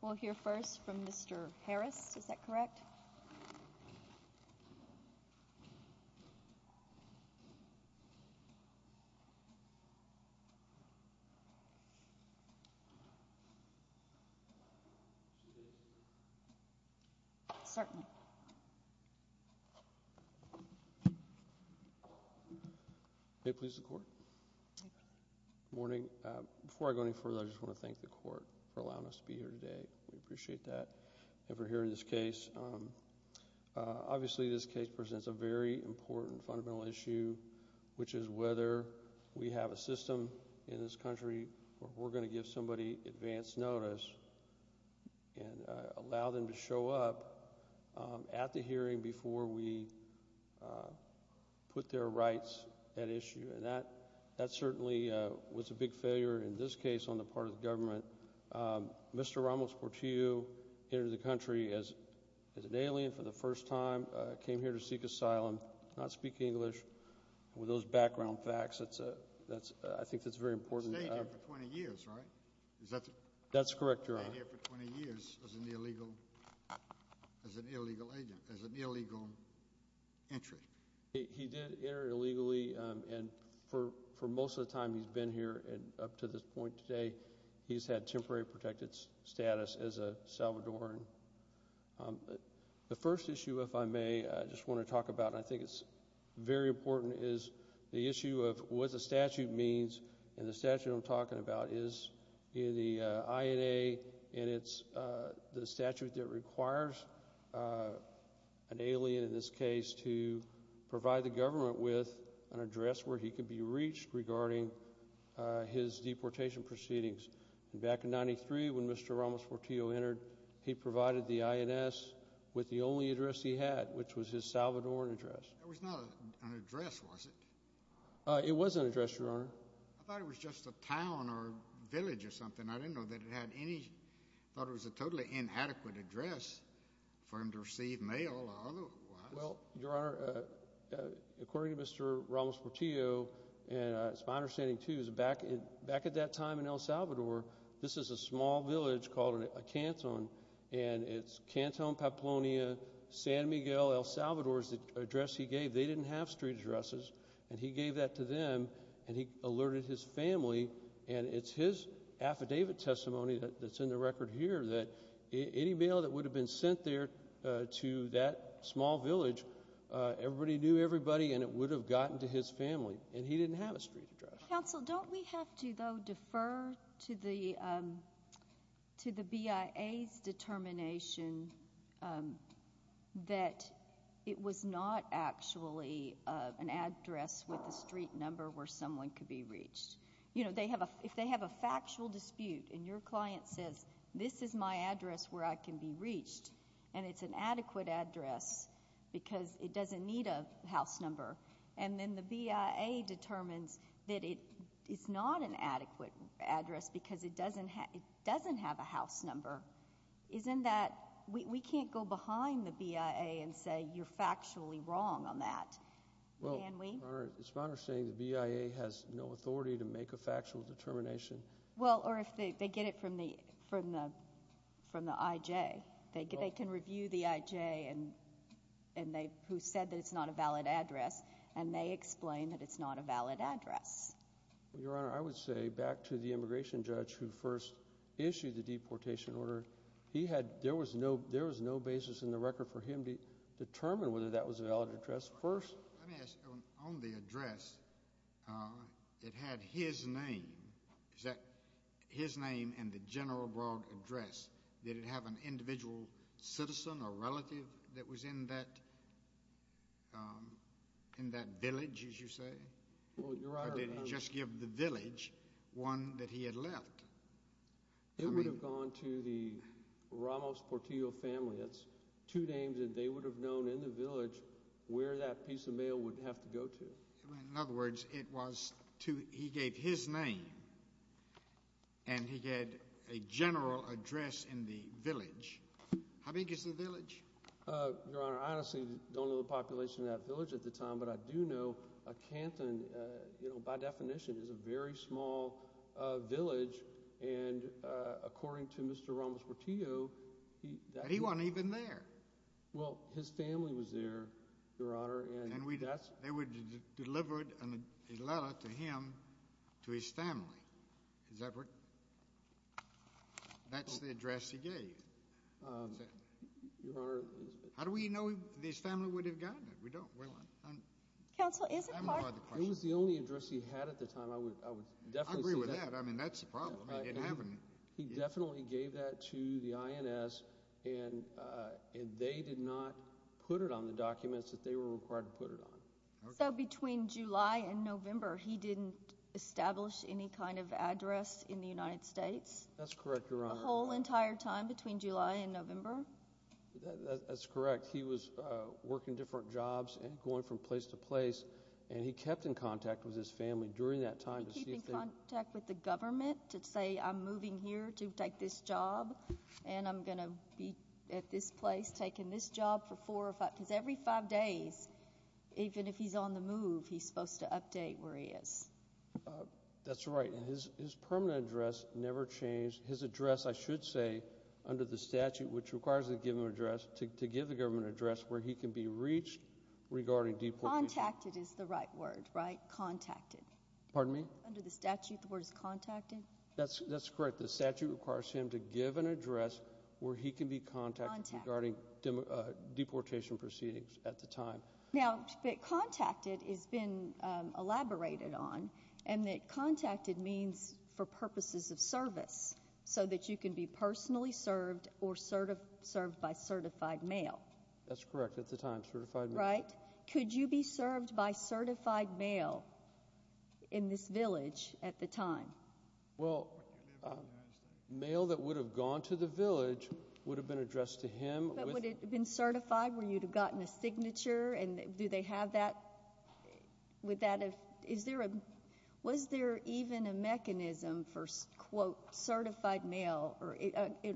We'll hear first from Mr. Harris, is that correct? Certainly. May it please the Court? Good morning. Before I go any further, I just want to thank the Court for allowing us to be here today. We appreciate that. If you're hearing this case, obviously this case presents a very important, fundamental issue, which is whether we have a system in this country where we're going to give somebody advanced notice and allow them to show up at the hearing before we put their rights at issue. And that certainly was a big failure in this case on the part of the government. Mr. Ramos-Portillo entered the country as an alien for the first time, came here to seek asylum, does not speak English. With those background facts, I think that's very important. He stayed here for 20 years, right? That's correct, Your Honor. He stayed here for 20 years as an illegal agent, as an illegal entry. He did enter illegally, and for most of the time he's been here up to this point today, he's had temporary protected status as a Salvadoran. The first issue, if I may, I just want to talk about, and I think it's very important, is the issue of what the statute means. And the statute I'm talking about is the INA, and it's the statute that requires an alien in this case to provide the government with an address where he can be reached regarding his deportation proceedings. Back in 1993, when Mr. Ramos-Portillo entered, he provided the INS with the only address he had, which was his Salvadoran address. It was not an address, was it? It was an address, Your Honor. I thought it was just a town or village or something. I didn't know that it had any—I thought it was a totally inadequate address for him to receive mail or otherwise. Well, Your Honor, according to Mr. Ramos-Portillo, and it's my understanding, too, is back at that time in El Salvador, this is a small village called Acanton, and it's Canton, Papalonia, San Miguel, El Salvador is the address he gave. They didn't have street addresses, and he gave that to them, and he alerted his family. And it's his affidavit testimony that's in the record here that any mail that would have been sent there to that small village, everybody knew everybody, and it would have gotten to his family, and he didn't have a street address. Counsel, don't we have to, though, defer to the BIA's determination that it was not actually an address with a street number where someone could be reached? You know, if they have a factual dispute and your client says, this is my address where I can be reached, and it's an adequate address because it doesn't need a house number, and then the BIA determines that it is not an adequate address because it doesn't have a house number, isn't that, we can't go behind the BIA and say you're factually wrong on that, can we? Well, Your Honor, it's my understanding the BIA has no authority to make a factual determination. Well, or if they get it from the IJ, they can review the IJ who said that it's not a valid address, and they explain that it's not a valid address. Well, Your Honor, I would say back to the immigration judge who first issued the deportation order, there was no basis in the record for him to determine whether that was a valid address. Let me ask you, on the address, it had his name. Is that his name and the General Brogg address? Did it have an individual citizen or relative that was in that village, as you say? Or did it just give the village one that he had left? It would have gone to the Ramos Portillo family. It's two names that they would have known in the village where that piece of mail would have to go to. In other words, he gave his name, and he had a general address in the village. How big is the village? Your Honor, I honestly don't know the population of that village at the time, but I do know Canton, by definition, is a very small village, and according to Mr. Ramos Portillo, that would have been there. Well, his family was there, Your Honor. And they would have delivered a letter to him, to his family. That's the address he gave. How do we know if his family would have gotten it? We don't. It was the only address he had at the time. I agree with that. I mean, that's the problem. It didn't happen. He definitely gave that to the INS, and they did not put it on the documents that they were required to put it on. So between July and November, he didn't establish any kind of address in the United States? That's correct, Your Honor. The whole entire time between July and November? That's correct. He was working different jobs and going from place to place, and he kept in contact with his family during that time. He kept in contact with the government to say, I'm moving here to take this job, and I'm going to be at this place taking this job for four or five, because every five days, even if he's on the move, he's supposed to update where he is. That's right. And his permanent address never changed. His address, I should say, under the statute, which requires a given address, to give the government an address where he can be reached regarding deportation. Contacted is the right word, right? Contacted. Pardon me? Under the statute, the word is contacted? That's correct. The statute requires him to give an address where he can be contacted regarding deportation proceedings at the time. Now, but contacted has been elaborated on, and that contacted means for purposes of service, so that you can be personally served or served by certified mail. That's correct. At the time, certified mail. Right? Could you be served by certified mail in this village at the time? Well, mail that would have gone to the village would have been addressed to him. But would it have been certified, where you would have gotten a signature, and do they have that? Was there even a mechanism for, quote, certified mail?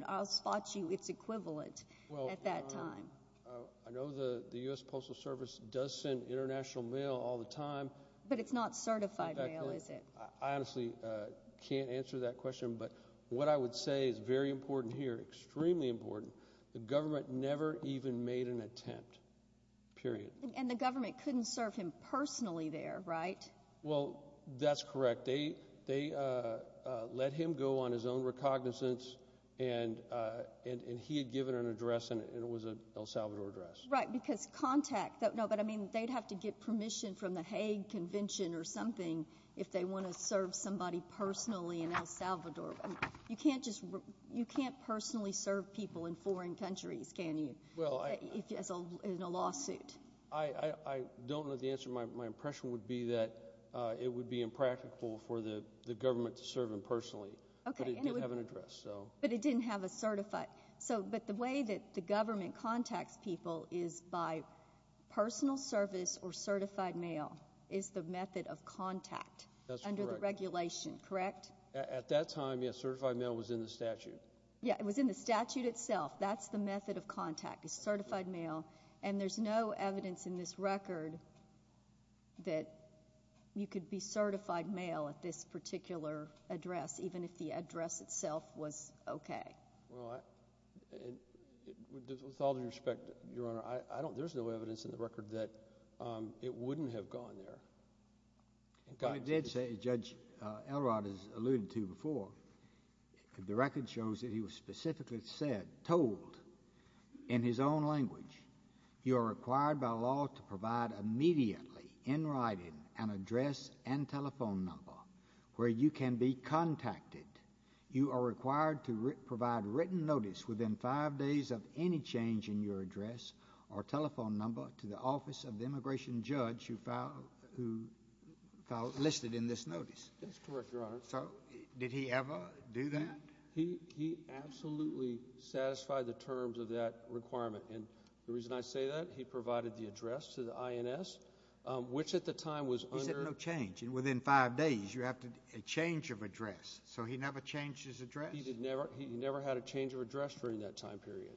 I'll spot you it's equivalent at that time. I know the U.S. Postal Service does send international mail all the time. But it's not certified mail, is it? I honestly can't answer that question, but what I would say is very important here, extremely important, the government never even made an attempt, period. And the government couldn't serve him personally there, right? Well, that's correct. They let him go on his own recognizance, and he had given an address, and it was an El Salvador address. Right, because contact. No, but I mean, they'd have to get permission from the Hague Convention or something if they want to serve somebody personally in El Salvador. You can't personally serve people in foreign countries, can you, in a lawsuit? I don't know the answer. My impression would be that it would be impractical for the government to serve him personally, but it did have an address. But it didn't have a certified. But the way that the government contacts people is by personal service or certified mail is the method of contact under the regulation, correct? At that time, yes, certified mail was in the statute. Yeah, it was in the statute itself. That's the method of contact, is certified mail. And there's no evidence in this record that you could be certified mail at this particular address, even if the address itself was okay. Well, with all due respect, Your Honor, there's no evidence in the record that it wouldn't have gone there. It did say, Judge Elrod has alluded to before, the record shows that he was specifically said, told, in his own language, you are required by law to provide immediately, in writing, an address and telephone number where you can be contacted. You are required to provide written notice within five days of any change in your address or telephone number to the office of the immigration judge who listed in this notice. That's correct, Your Honor. So did he ever do that? He absolutely satisfied the terms of that requirement. And the reason I say that, he provided the address to the INS, which at the time was under- He said no change. And within five days, you have a change of address. So he never changed his address? He never had a change of address during that time period.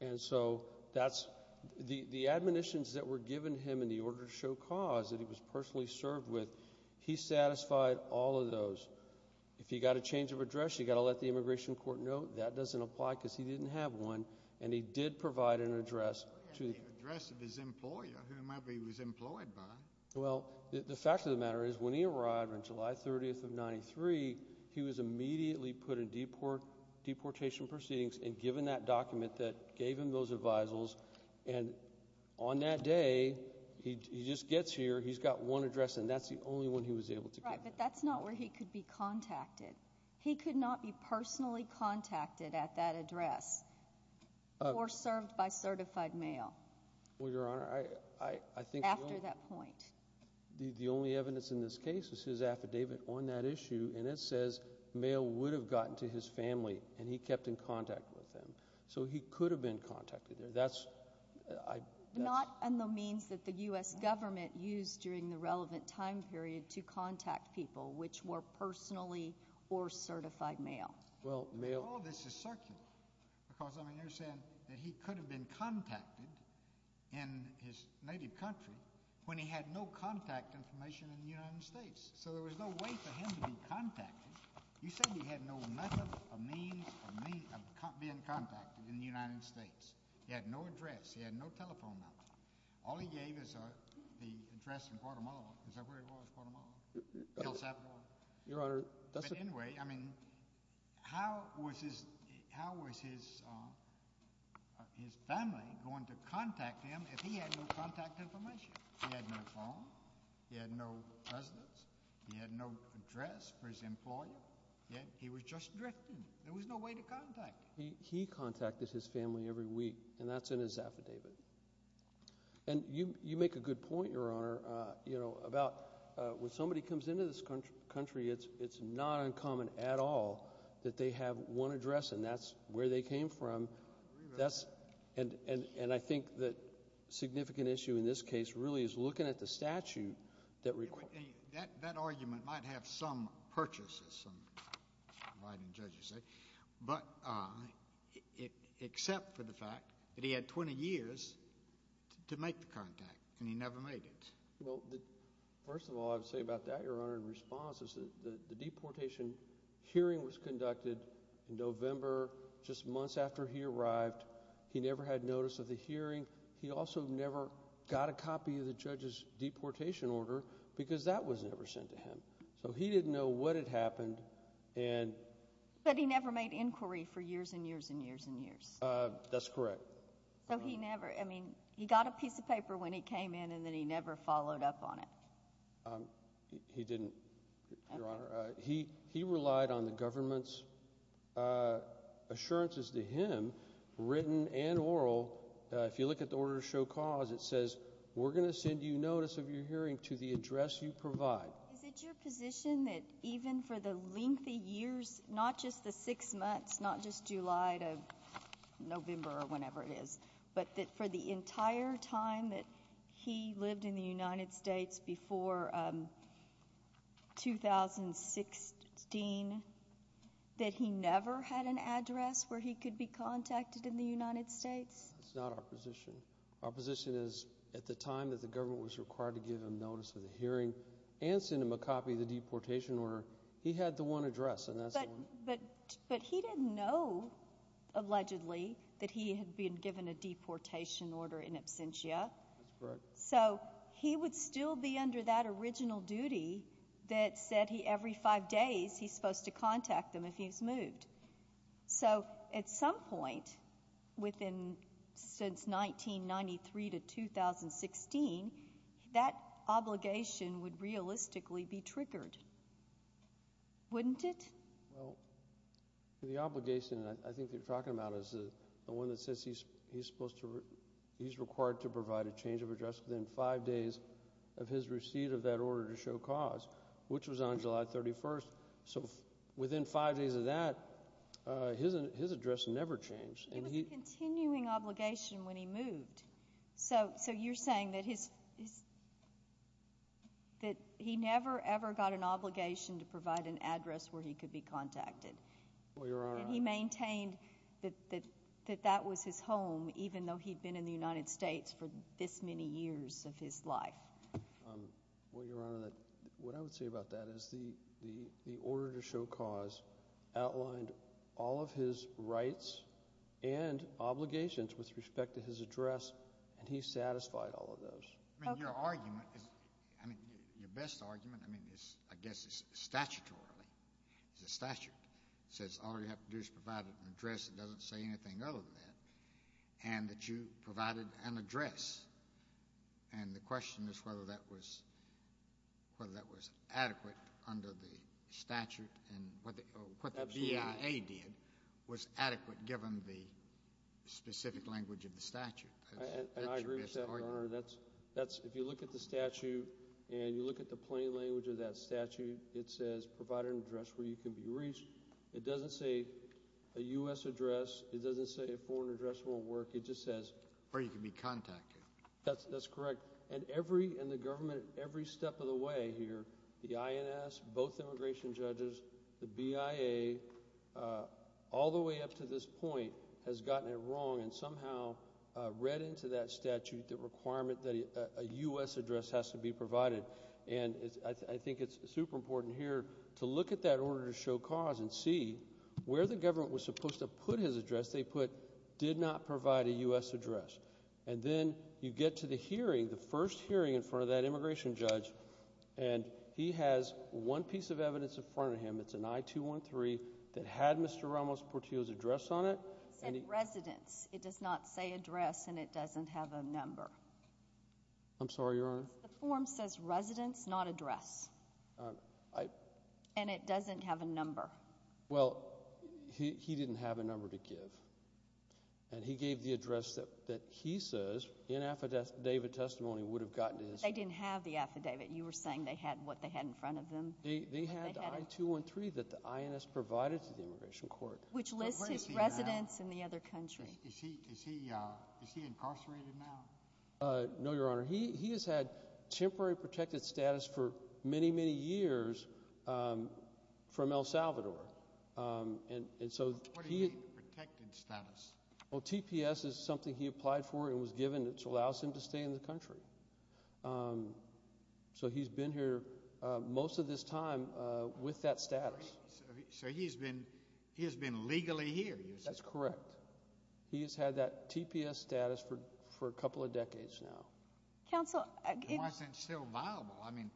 And so that's, the admonitions that were given him in the order to show cause that he was personally served with, he satisfied all of those. If he got a change of address, you got to let the immigration court know that doesn't apply because he didn't have one. And he did provide an address to- He had the address of his employer, whomever he was employed by. Well, the fact of the matter is, when he arrived on July 30th of 93, he was immediately put in deportation proceedings and given that document that gave him those advisals. And on that day, he just gets here, he's got one address, and that's the only one he was able to get. Right, but that's not where he could be contacted. He could not be personally contacted at that address or served by certified mail. Well, Your Honor, I think- After that point. The only evidence in this case is his affidavit on that issue, and it says mail would have gotten to his family, and he kept in contact with them. So he could have been contacted there. That's- Not on the means that the U.S. government used during the relevant time period to contact people, which were personally or certified mail. Well, mail- All of this is circular because, I mean, you're saying that he could have been contacted in his native country when he had no contact information in the United States. So there was no way for him to be contacted. You said he had no method or means of being contacted in the United States. He had no address. He had no telephone number. All he gave is the address in Guatemala. Is that where he was, Guatemala? El Salvador? Your Honor, that's- But anyway, I mean, how was his family going to contact him if he had no contact information? He had no phone. He had no residence. He had no address for his employer. He was just drifting. There was no way to contact him. He contacted his family every week, and that's in his affidavit. And you make a good point, Your Honor, about when somebody comes into this country, it's not uncommon at all that they have one address, and that's where they came from. And I think the significant issue in this case really is looking at the statute that requires- That argument might have some purchase, as some writing judges say, but except for the fact that he had 20 years to make the contact, and he never made it. Well, first of all, I would say about that, Your Honor, in response is that the deportation hearing was conducted in November, just months after he arrived. He never had notice of the hearing. He also never got a copy of the judge's deportation order, because that was never sent to him. So he didn't know what had happened, and- But he never made inquiry for years and years and years and years. That's correct. So he never- I mean, he got a piece of paper when he came in, and then he never followed up on it. He didn't, Your Honor. He relied on the government's assurances to him, written and oral. If you look at the order to show cause, it says, we're going to send you notice of your hearing to the address you provide. Is it your position that even for the lengthy years, not just the six months, not just July to November or whenever it is, but that for the entire time that he lived in the United States? It's not our position. Our position is, at the time that the government was required to give him notice of the hearing and send him a copy of the deportation order, he had the one address, and that's the one- But he didn't know, allegedly, that he had been given a deportation order in absentia. That's correct. So he would still be under that original duty that said he, every five days, he's supposed to contact them if he's moved. So, at some point, within, since 1993 to 2016, that obligation would realistically be triggered. Wouldn't it? Well, the obligation that I think you're talking about is the one that says he's supposed to, he's required to provide a change of address within five days of his receipt of that order to show cause, which was on July 31st. So, within five days of that, his address never changed, and he- It was a continuing obligation when he moved. So, you're saying that his, that he never, ever got an obligation to provide an address where he could be contacted. Well, Your Honor- And he maintained that that was his home, even though he'd been in the United States for this many years of his life. Well, Your Honor, what I would say about that is the order to show cause outlined all of his rights and obligations with respect to his address, and he satisfied all of those. I mean, your argument is, I mean, your best argument, I mean, is, I guess it's statutorily. It's a statute. It says all you have to do is provide an address that doesn't say anything other than that, and that you provided an address. And the question is whether that was adequate under the statute, and what the BIA did was adequate given the specific language of the statute. And I agree with that, Your Honor. If you look at the statute and you look at the plain language of that statute, it says provide an address where you can be reached. It doesn't say a U.S. address. It doesn't say a foreign address won't work. It just says where you can be contacted. That's correct. And every step of the way here, the INS, both immigration judges, the BIA, all the way up to this point has gotten it wrong and somehow read into that statute the requirement that a U.S. address has to be provided. And I think it's super important here to look at that order to show cause and see where the government was supposed to put his address they put did not provide a U.S. address. And then you get to the hearing, the first hearing in front of that immigration judge, and he has one piece of evidence in front of him. It's an I-213 that had Mr. Ramos-Portillo's address on it. It said residence. It does not say address, and it doesn't have a number. I'm sorry, Your Honor? The form says residence, not address. And it doesn't have a number. Well, he didn't have a number to give, and he gave the address that he says in affidavit testimony would have gotten his address. They didn't have the affidavit. You were saying they had what they had in front of them. They had the I-213 that the INS provided to the immigration court. Which lists his residence in the other country. Is he incarcerated now? No, Your Honor. He has had temporary protected status for many, many years from El Salvador. What do you mean protected status? Well, TPS is something he applied for and was given, which allows him to stay in the country. So he's been here most of this time with that status. So he has been legally here, you said? That's correct. He has had that TPS status for a couple of decades now. Why isn't it still viable? I mean,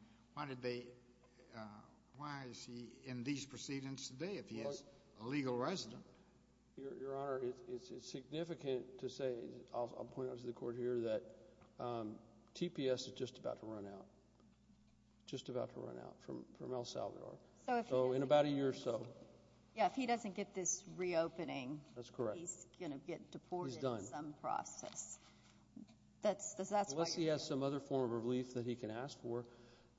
why is he in these proceedings today if he is a legal resident? Your Honor, it's significant to say, I'll point out to the court here, that TPS is just about to run out, just about to run out from El Salvador. So in about a year or so. Yeah, if he doesn't get this reopening, he's going to get deported in some process. Unless he has some other form of relief that he can ask for.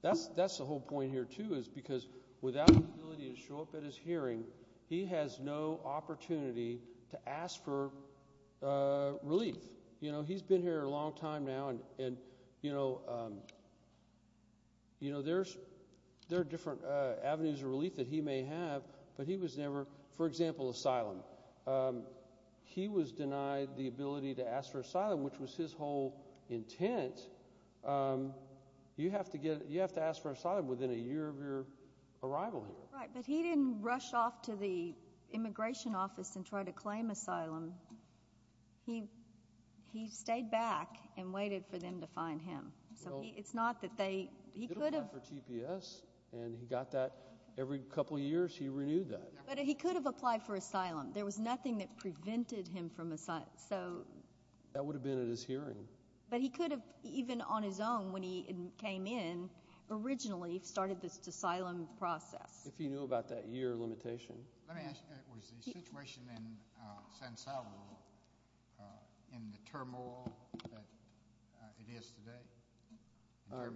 That's the whole point here, too, is because without the ability to show up at his hearing, he has no opportunity to ask for relief. He's been here a long time now, and there are different avenues of relief that he may have, but he was never, for example, asylum. He was denied the ability to ask for asylum, which was his whole intent. You have to ask for asylum within a year of your arrival here. Right, but he didn't rush off to the immigration office and try to claim asylum. He stayed back and waited for them to find him. So it's not that they, he could have. He applied for TPS, and he got that. Every couple years he renewed that. But he could have applied for asylum. There was nothing that prevented him from asylum. That would have been at his hearing. But he could have, even on his own, when he came in, originally started this asylum process. If he knew about that year limitation. Let me ask, was the situation in San Salvador in the turmoil that it is today?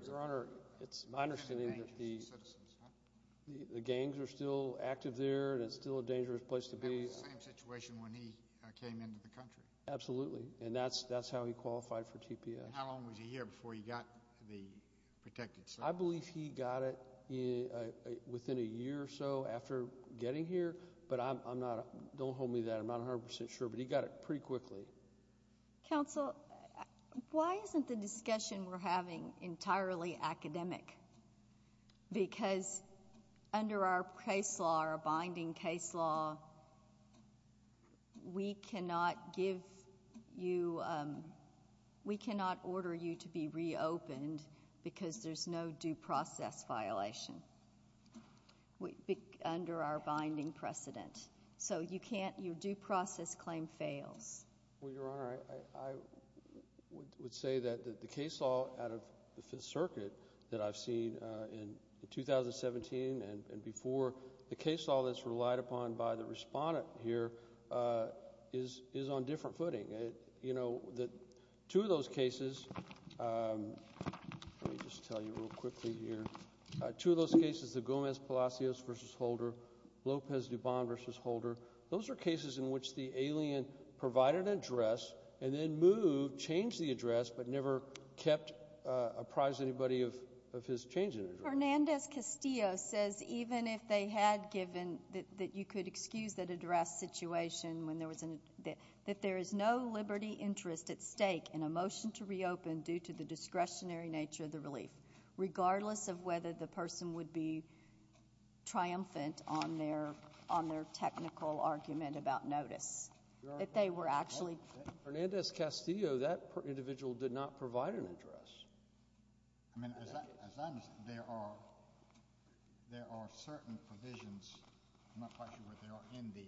Your Honor, it's my understanding that the gangs are still active there, and it's still a dangerous place to be. It was the same situation when he came into the country. Absolutely, and that's how he qualified for TPS. How long was he here before he got the protected asylum? I believe he got it within a year or so after getting here, but I'm not, don't hold me to that. I'm not 100 percent sure, but he got it pretty quickly. Counsel, why isn't the discussion we're having entirely academic? Because under our case law, our binding case law, we cannot give you, we cannot order you to be reopened because there's no due process violation under our binding precedent. So you can't, your due process claim fails. Well, Your Honor, I would say that the case law out of the Fifth Circuit that I've seen in 2017 and before, the case law that's relied upon by the respondent here is on different footing. You know, two of those cases, let me just tell you real quickly here, two of those cases, the Gomez-Palacios v. Holder, Lopez-Dubon v. Holder, those are cases in which the alien provided an address and then moved, changed the address, but never kept, apprised anybody of his change in address. Hernandez-Castillo says even if they had given, that you could excuse that address situation, that there is no liberty interest at stake in a motion to reopen due to the discretionary nature of the relief, regardless of whether the person would be triumphant on their technical argument about notice. If they were actually. Hernandez-Castillo, that individual did not provide an address. I mean, as I understand, there are certain provisions, I'm not quite sure what they are, in the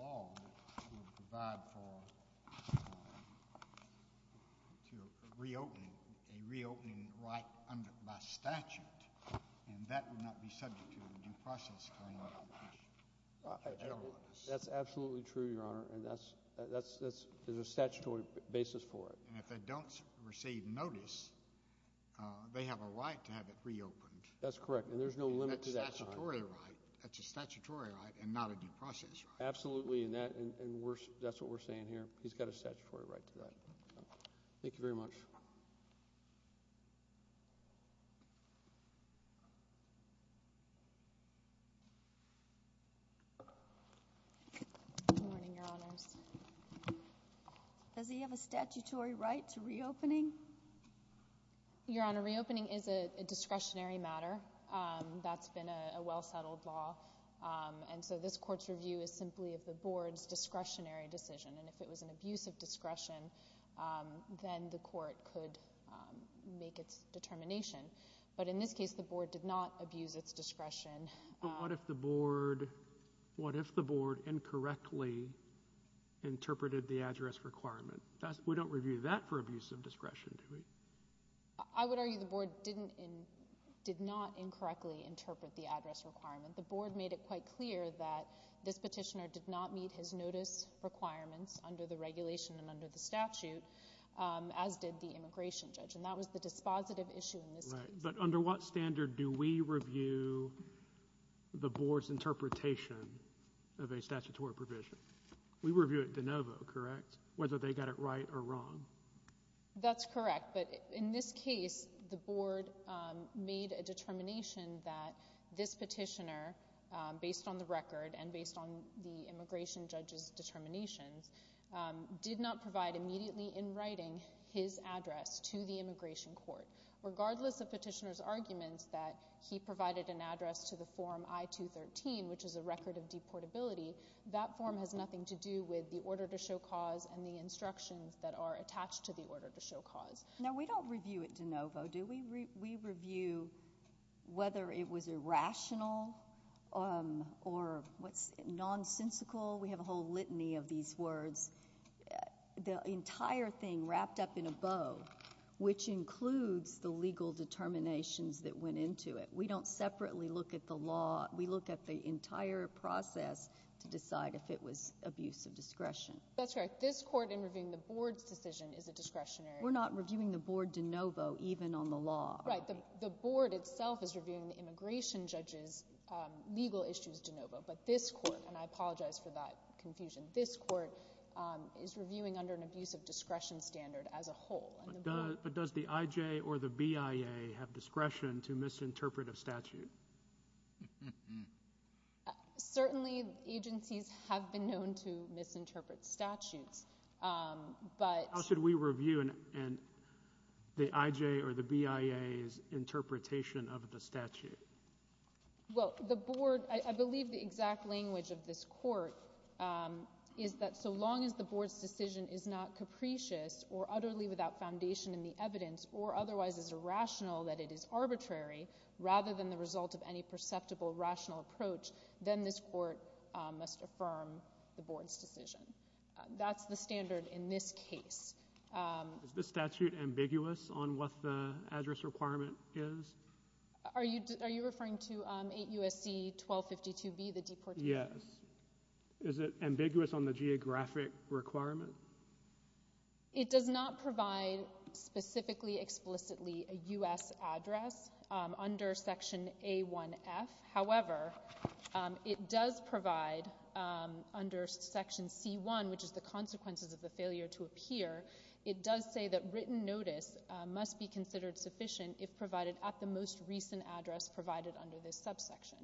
law that would provide for a reopening right by statute, and that would not be subject to a due process claim. That's absolutely true, Your Honor, and there's a statutory basis for it. And if they don't receive notice, they have a right to have it reopened. That's correct, and there's no limit to that. That's a statutory right and not a due process right. Absolutely, and that's what we're saying here. He's got a statutory right to that. Thank you very much. Good morning, Your Honors. Does he have a statutory right to reopening? Your Honor, reopening is a discretionary matter. That's been a well-settled law, and so this court's review is simply of the board's discretionary decision, and if it was an abuse of discretion, then the court could make its determination. But in this case, the board did not abuse its discretion. But what if the board incorrectly interpreted the address requirement? We don't review that for abuse of discretion, do we? I would argue the board did not incorrectly interpret the address requirement. The board made it quite clear that this petitioner did not meet his notice requirements under the regulation and under the statute, as did the immigration judge, and that was the dispositive issue in this case. Right, but under what standard do we review the board's interpretation of a statutory provision? We review it de novo, correct, whether they got it right or wrong? That's correct, but in this case, the board made a determination that this petitioner, based on the record and based on the immigration judge's determinations, did not provide immediately in writing his address to the immigration court. Regardless of petitioner's arguments that he provided an address to the form I-213, which is a record of deportability, that form has nothing to do with the order to show cause and the instructions that are attached to the order to show cause. Now, we don't review it de novo, do we? We review whether it was irrational or nonsensical. We have a whole litany of these words. The entire thing wrapped up in a bow, which includes the legal determinations that went into it. We don't separately look at the law. We look at the entire process to decide if it was abuse of discretion. That's correct. This court, in reviewing the board's decision, is a discretionary. We're not reviewing the board de novo, even on the law. Right, the board itself is reviewing the immigration judge's legal issues de novo, but this court, and I apologize for that confusion, this court is reviewing under an abuse of discretion standard as a whole. But does the IJ or the BIA have discretion to misinterpret a statute? Certainly, agencies have been known to misinterpret statutes. How should we review the IJ or the BIA's interpretation of the statute? Well, the board, I believe the exact language of this court is that so long as the board's decision is not capricious or utterly without foundation in the evidence or otherwise is irrational, that it is arbitrary, rather than the result of any perceptible rational approach, then this court must affirm the board's decision. That's the standard in this case. Is this statute ambiguous on what the address requirement is? Are you referring to 8 U.S.C. 1252B, the deportation? Yes. Is it ambiguous on the geographic requirement? It does not provide specifically explicitly a U.S. address under Section A1F. However, it does provide under Section C1, which is the consequences of the failure to appear, it does say that written notice must be considered sufficient if provided at the most recent address provided under this subsection.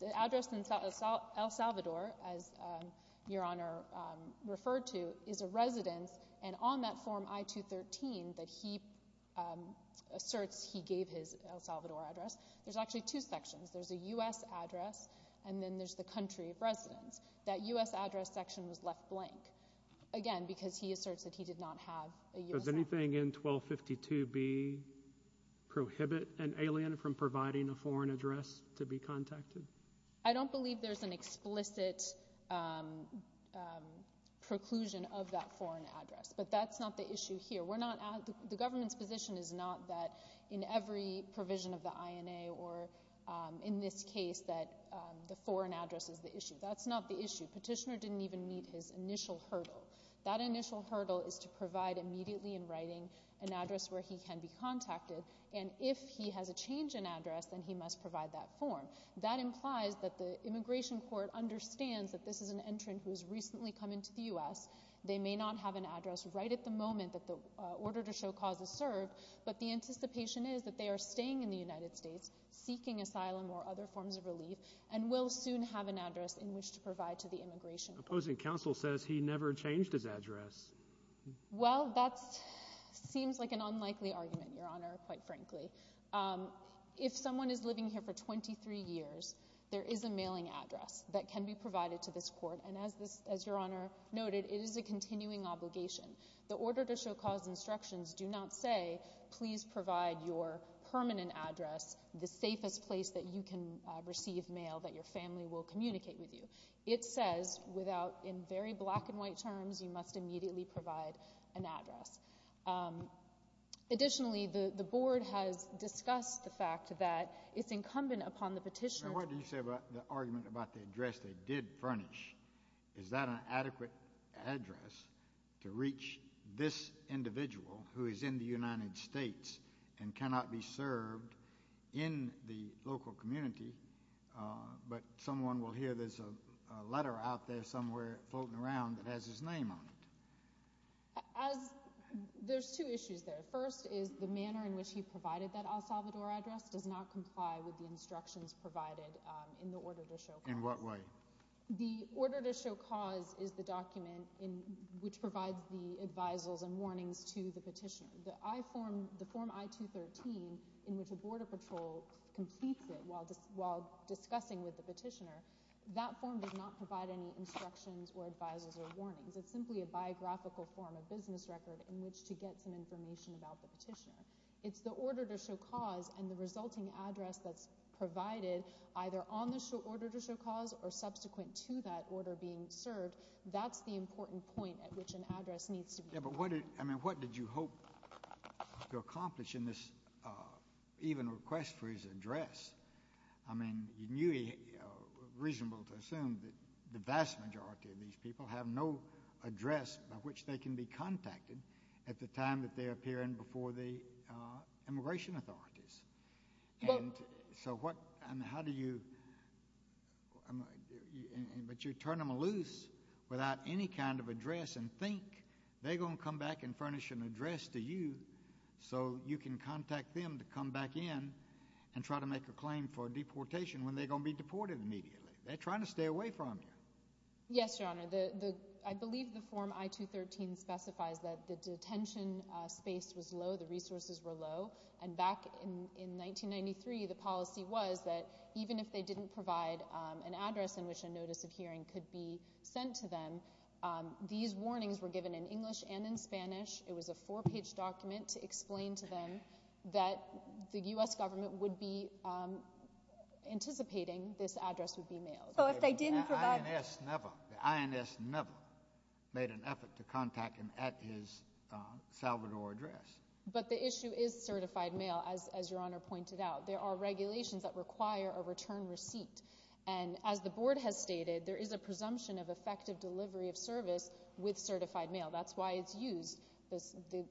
The address in El Salvador, as Your Honor referred to, is a residence, and on that Form I-213 that he asserts he gave his El Salvador address, there's actually two sections. There's a U.S. address, and then there's the country of residence. That U.S. address section was left blank, again, because he asserts that he did not have a U.S. address. Does anything in 1252B prohibit an alien from providing a foreign address to be contacted? I don't believe there's an explicit preclusion of that foreign address, but that's not the issue here. The government's position is not that in every provision of the INA or in this case that the foreign address is the issue. That's not the issue. Petitioner didn't even meet his initial hurdle. That initial hurdle is to provide immediately in writing an address where he can be contacted, and if he has a change in address, then he must provide that form. That implies that the immigration court understands that this is an entrant who has recently come into the U.S. They may not have an address right at the moment that the order to show cause is served, but the anticipation is that they are staying in the United States, seeking asylum or other forms of relief, and will soon have an address in which to provide to the immigration court. Opposing counsel says he never changed his address. Well, that seems like an unlikely argument, Your Honor, quite frankly. If someone is living here for 23 years, there is a mailing address that can be provided to this court, and as Your Honor noted, it is a continuing obligation. The order to show cause instructions do not say, please provide your permanent address, the safest place that you can receive mail that your family will communicate with you. It says without, in very black and white terms, you must immediately provide an address. Additionally, the board has discussed the fact that it's incumbent upon the petitioner to What do you say about the argument about the address they did furnish? Is that an adequate address to reach this individual who is in the United States and cannot be served in the local community, but someone will hear there's a letter out there somewhere floating around that has his name on it? There's two issues there. First is the manner in which he provided that El Salvador address does not comply with the instructions provided in the order to show cause. In what way? The order to show cause is the document which provides the advisals and warnings to the petitioner. The form I-213, in which a border patrol completes it while discussing with the petitioner, that form does not provide any instructions or advisals or warnings. It's simply a biographical form, a business record, in which to get some information about the petitioner. It's the order to show cause and the resulting address that's provided either on the order to show cause or subsequent to that order being served. That's the important point at which an address needs to be provided. Yeah, but what did you hope to accomplish in this even request for his address? I mean, you knew it was reasonable to assume that the vast majority of these people have no address by which they can be contacted at the time that they appear in before the immigration authorities. So how do you turn them loose without any kind of address and think they're going to come back and furnish an address to you so you can contact them to come back in and try to make a claim for deportation when they're going to be deported immediately? They're trying to stay away from you. Yes, Your Honor. I believe the Form I-213 specifies that the detention space was low, the resources were low. And back in 1993, the policy was that even if they didn't provide an address in which a notice of hearing could be sent to them, these warnings were given in English and in Spanish. It was a four-page document to explain to them that the U.S. government would be anticipating this address would be mailed. The INS never made an effort to contact him at his Salvador address. But the issue is certified mail, as Your Honor pointed out. There are regulations that require a return receipt. And as the Board has stated, there is a presumption of effective delivery of service with certified mail. That's why it's used. The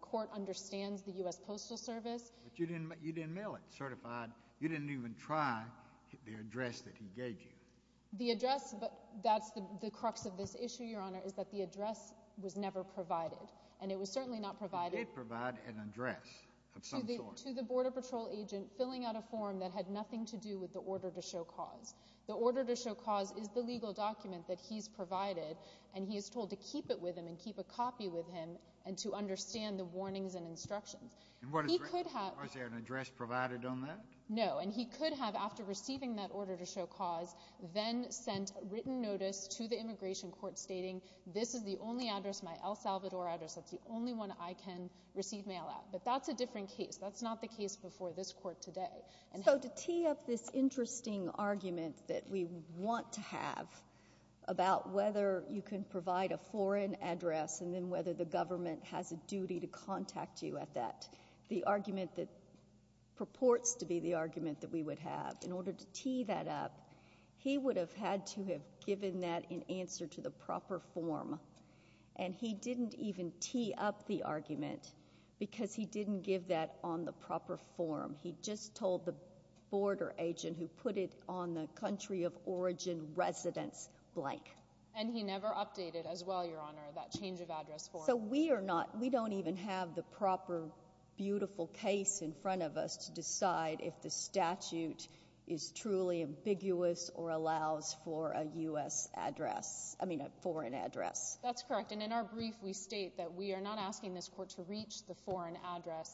court understands the U.S. Postal Service. But you didn't mail it certified. You didn't even try the address that he gave you. The address, that's the crux of this issue, Your Honor, is that the address was never provided. And it was certainly not provided. It did provide an address of some sort. To the Border Patrol agent filling out a form that had nothing to do with the order to show cause. The order to show cause is the legal document that he's provided, and he is told to keep it with him and keep a copy with him and to understand the warnings and instructions. Was there an address provided on that? No. And he could have, after receiving that order to show cause, then sent written notice to the immigration court stating, this is the only address, my El Salvador address, that's the only one I can receive mail at. But that's a different case. That's not the case before this court today. So to tee up this interesting argument that we want to have about whether you can provide a foreign address and then whether the government has a duty to contact you at that, the argument that purports to be the argument that we would have, in order to tee that up, he would have had to have given that in answer to the proper form. And he didn't even tee up the argument because he didn't give that on the proper form. He just told the border agent who put it on the country of origin residence blank. And he never updated as well, Your Honor, that change of address form. So we are not, we don't even have the proper beautiful case in front of us to decide if the statute is truly ambiguous or allows for a U.S. address, I mean a foreign address. That's correct. And in our brief we state that we are not asking this court to reach the foreign address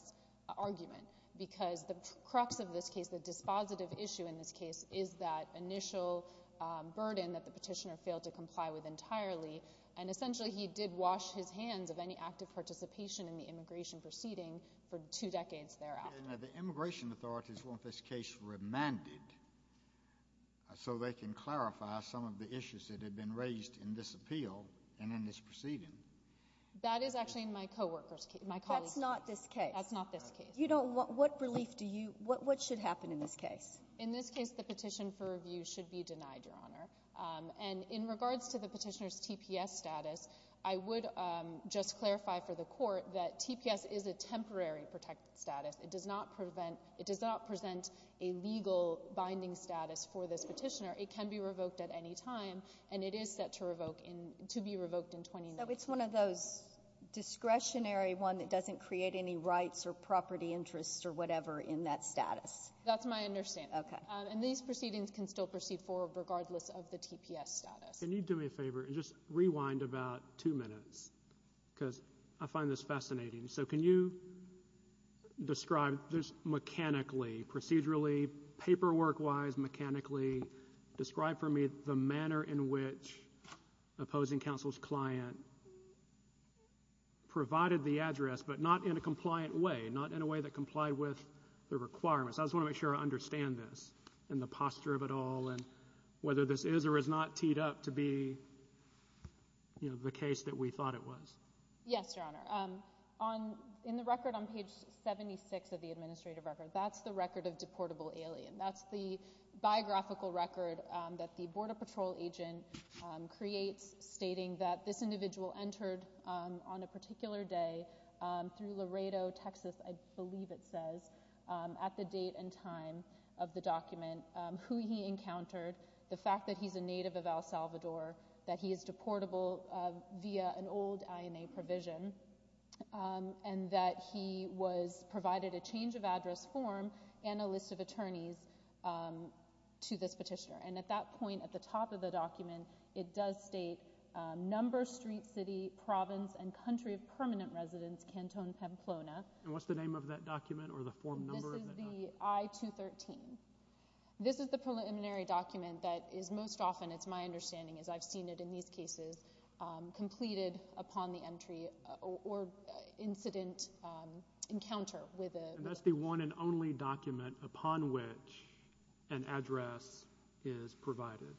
argument because the crux of this case, the dispositive issue in this case, is that initial burden that the petitioner failed to comply with entirely. And essentially he did wash his hands of any active participation in the immigration proceeding for two decades thereafter. The immigration authorities want this case remanded so they can clarify some of the issues that have been raised in this appeal and in this proceeding. That is actually in my co-worker's case, my colleague's case. That's not this case. That's not this case. You don't want, what relief do you, what should happen in this case? In this case the petition for review should be denied, Your Honor. And in regards to the petitioner's TPS status, I would just clarify for the court that TPS is a temporary protected status. It does not present a legal binding status for this petitioner. It can be revoked at any time and it is set to be revoked in 2019. So it's one of those discretionary ones that doesn't create any rights or property interests or whatever in that status. That's my understanding. Okay. And these proceedings can still proceed forward regardless of the TPS status. Can you do me a favor and just rewind about two minutes because I find this fascinating. So can you describe this mechanically, procedurally, paperwork-wise, mechanically describe for me the manner in which opposing counsel's client provided the address but not in a compliant way, not in a way that complied with the requirements. I just want to make sure I understand this and the posture of it all and whether this is or is not teed up to be the case that we thought it was. Yes, Your Honor. In the record on page 76 of the administrative record, that's the record of deportable alien. That's the biographical record that the Border Patrol agent creates stating that this individual entered on a particular day through Laredo, Texas, I believe it says, at the date and time of the document, who he encountered, the fact that he's a native of El Salvador, that he is deportable via an old INA provision, and that he was provided a change of address form and a list of attorneys to this petitioner. And at that point, at the top of the document, it does state, number, street, city, province, and country of permanent residence, Canton, Pamplona. And what's the name of that document or the form number? This is the I-213. This is the preliminary document that is most often, it's my understanding, as I've seen it in these cases, completed upon the entry or incident encounter. And that's the one and only document upon which an address is provided.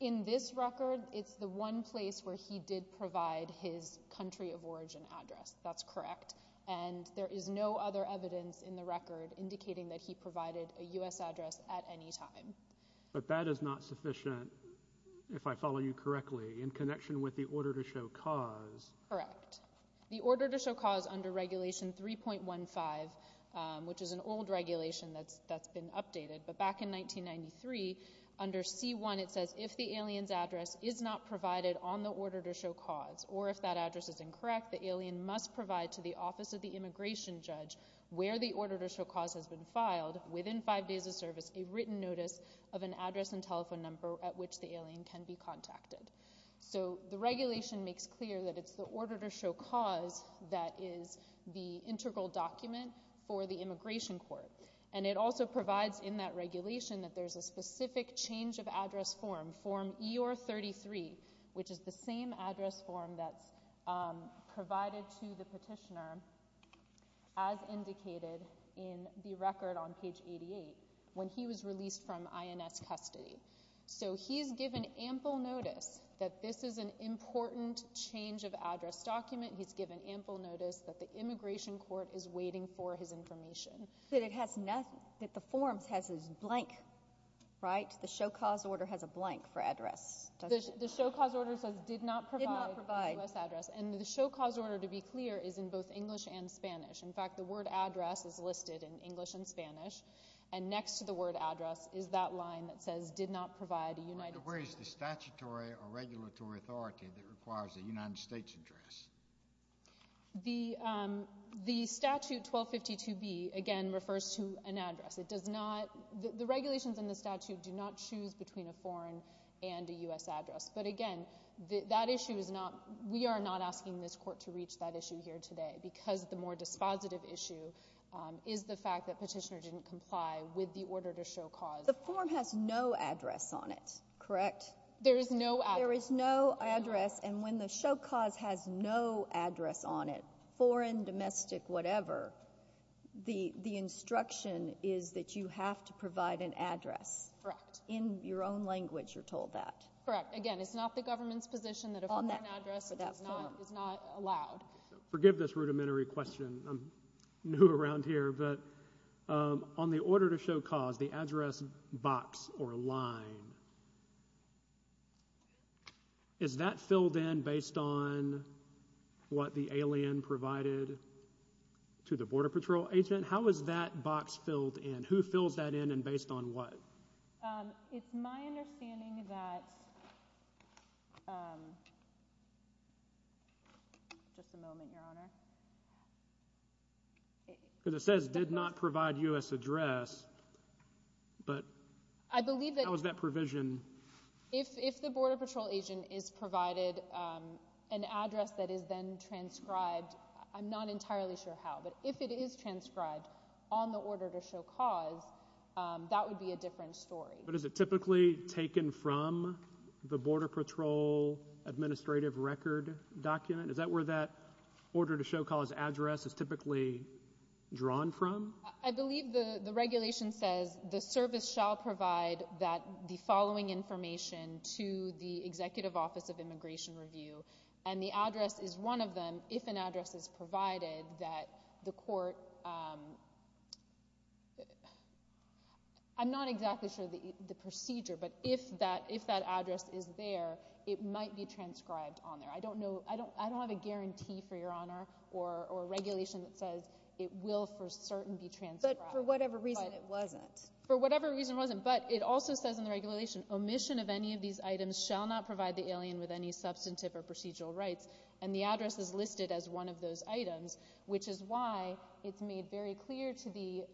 In this record, it's the one place where he did provide his country of origin address. That's correct. And there is no other evidence in the record indicating that he provided a U.S. address at any time. But that is not sufficient, if I follow you correctly, in connection with the order to show cause. Correct. The order to show cause under Regulation 3.15, which is an old regulation that's been updated, but back in 1993, under C-1, it says, if the alien's address is not provided on the order to show cause, or if that address is incorrect, the alien must provide to the Office of the Immigration Judge, where the order to show cause has been filed, within five days of service, a written notice of an address and telephone number at which the alien can be contacted. So the regulation makes clear that it's the order to show cause that is the integral document for the Immigration Court. And it also provides in that regulation that there's a specific change of address form, Form EOR-33, which is the same address form that's provided to the petitioner, as indicated in the record on page 88, when he was released from INS custody. So he's given ample notice that this is an important change of address document. He's given ample notice that the Immigration Court is waiting for his information. But it has nothing, that the form has a blank, right? The show cause order has a blank for address. The show cause order says, did not provide the U.S. address. And the show cause order, to be clear, is in both English and Spanish. In fact, the word address is listed in English and Spanish, and next to the word address is that line that says, did not provide a United States address. Where is the statutory or regulatory authority that requires a United States address? The statute 1252B, again, refers to an address. It does not, the regulations in the statute do not choose between a foreign and a U.S. address. But again, that issue is not, we are not asking this court to reach that issue here today, because the more dispositive issue is the fact that Petitioner didn't comply with the order to show cause. The form has no address on it, correct? There is no address. There is no address. And when the show cause has no address on it, foreign, domestic, whatever, the instruction is that you have to provide an address. Correct. In your own language, you're told that. Correct. Again, it's not the government's position that a foreign address is not allowed. Forgive this rudimentary question. I'm new around here. But on the order to show cause, the address box or line, is that filled in based on what the alien provided to the Border Patrol agent? How is that box filled in? Who fills that in and based on what? It's my understanding that, just a moment, Your Honor. Because it says did not provide U.S. address, but how is that provision? If the Border Patrol agent is provided an address that is then transcribed, I'm not entirely sure how, but if it is transcribed on the order to show cause, that would be a different story. But is it typically taken from the Border Patrol administrative record document? Is that where that order to show cause address is typically drawn from? I believe the regulation says the service shall provide the following information to the Executive Office of Immigration Review, and the address is one of them if an address is provided that the court, I'm not exactly sure the procedure, but if that address is there, it might be transcribed on there. I don't know, I don't have a guarantee for Your Honor or regulation that says it will for certain be transcribed. But for whatever reason it wasn't. For whatever reason it wasn't. But it also says in the regulation, omission of any of these items shall not provide the alien with any substantive or procedural rights, and the address is listed as one of those items, which is why it's made very clear to the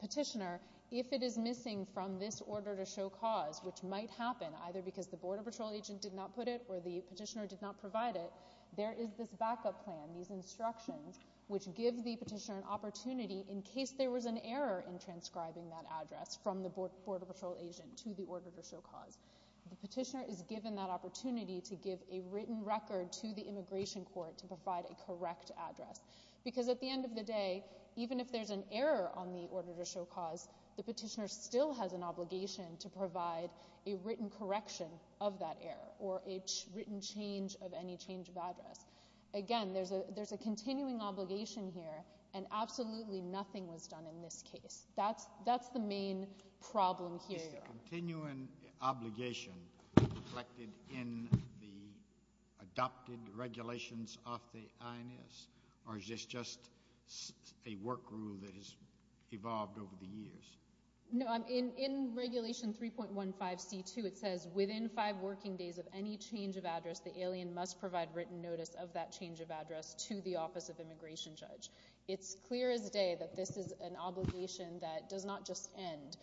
petitioner if it is missing from this order to show cause, which might happen, either because the Border Patrol agent did not put it or the petitioner did not provide it, there is this backup plan, these instructions, which give the petitioner an opportunity in case there was an error in transcribing that address from the Border Patrol agent to the order to show cause. The petitioner is given that opportunity to give a written record to the immigration court to provide a correct address. Because at the end of the day, even if there's an error on the order to show cause, the petitioner still has an obligation to provide a written correction of that error or a written change of any change of address. Again, there's a continuing obligation here, and absolutely nothing was done in this case. That's the main problem here. Is the continuing obligation reflected in the adopted regulations of the INS, or is this just a work rule that has evolved over the years? No, in Regulation 3.15c.2, it says, Within five working days of any change of address, the alien must provide written notice of that change of address to the office of immigration judge. It's clear as day that this is an obligation that does not just end.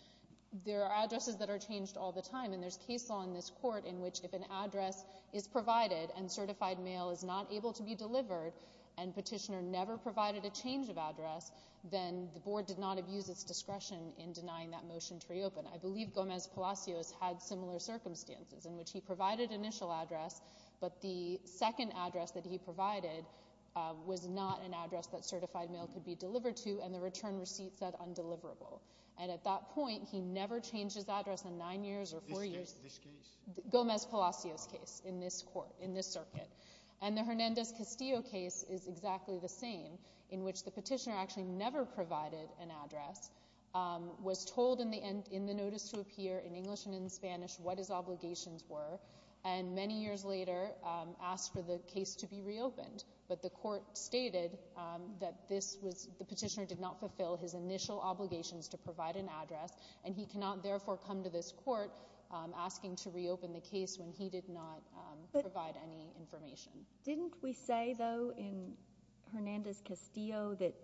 There are addresses that are changed all the time, and there's case law in this court in which if an address is provided and certified mail is not able to be delivered and petitioner never provided a change of address, then the board did not abuse its discretion in denying that motion to reopen. I believe Gomez Palacios had similar circumstances in which he provided initial address, but the second address that he provided was not an address that certified mail could be delivered to, and the return receipt said undeliverable. And at that point, he never changed his address in nine years or four years. This case? Gomez Palacios' case in this circuit. And the Hernandez Castillo case is exactly the same, in which the petitioner actually never provided an address, was told in the notice to appear in English and in Spanish what his obligations were, and many years later asked for the case to be reopened. But the court stated that the petitioner did not fulfill his initial obligations to provide an address, and he cannot therefore come to this court asking to reopen the case when he did not provide any information. Didn't we say, though, in Hernandez Castillo that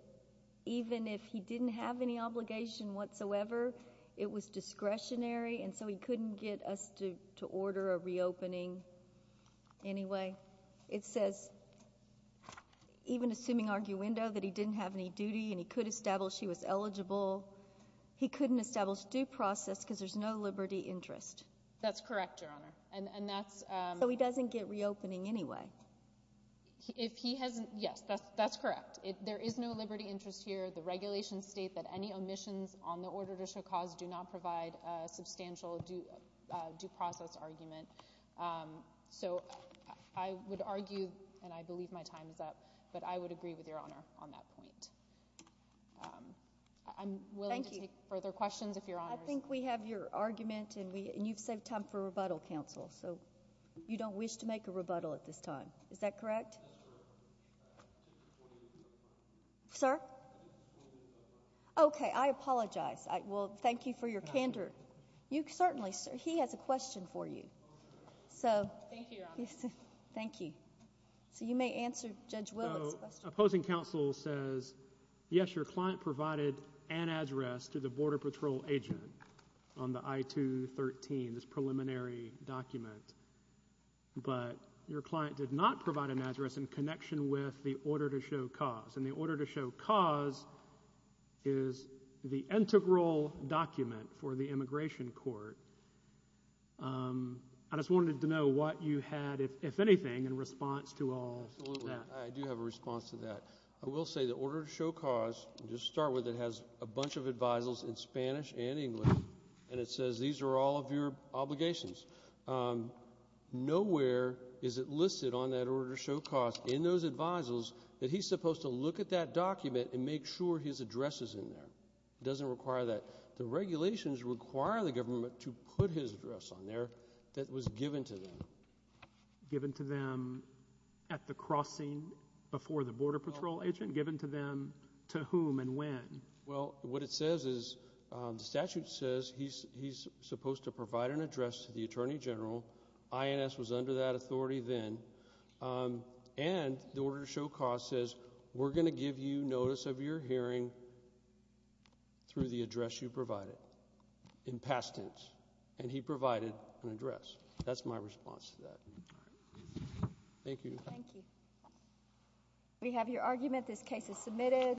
even if he didn't have any obligation whatsoever, it was discretionary, and so he couldn't get us to order a reopening anyway? It says, even assuming arguendo, that he didn't have any duty and he could establish he was eligible, he couldn't establish due process because there's no liberty interest. That's correct, Your Honor. So he doesn't get reopening anyway? Yes, that's correct. There is no liberty interest here. The regulations state that any omissions on the order to show cause do not provide a substantial due process argument. So I would argue, and I believe my time is up, but I would agree with Your Honor on that point. I'm willing to take further questions if Your Honor is— I think we have your argument, and you've saved time for rebuttal, Counsel, so you don't wish to make a rebuttal at this time. Is that correct? Sir? Okay, I apologize. Well, thank you for your candor. Certainly, sir. He has a question for you. Thank you, Your Honor. Thank you. So you may answer Judge Willard's question. The opposing counsel says, yes, your client provided an address to the Border Patrol agent on the I-213, this preliminary document, but your client did not provide an address in connection with the order to show cause, and the order to show cause is the integral document for the immigration court. I just wanted to know what you had, if anything, in response to all that. Absolutely. I do have a response to that. I will say the order to show cause, just to start with, it has a bunch of advisals in Spanish and English, and it says these are all of your obligations. Nowhere is it listed on that order to show cause in those advisals that he's supposed to look at that document and make sure his address is in there. It doesn't require that. The regulations require the government to put his address on there that was given to them. Given to them at the crossing before the Border Patrol agent? Given to them to whom and when? Well, what it says is the statute says he's supposed to provide an address to the Attorney General. INS was under that authority then. And the order to show cause says we're going to give you notice of your hearing through the address you provided in past tense, and he provided an address. That's my response to that. All right. Thank you. Thank you. We have your argument. This case is submitted.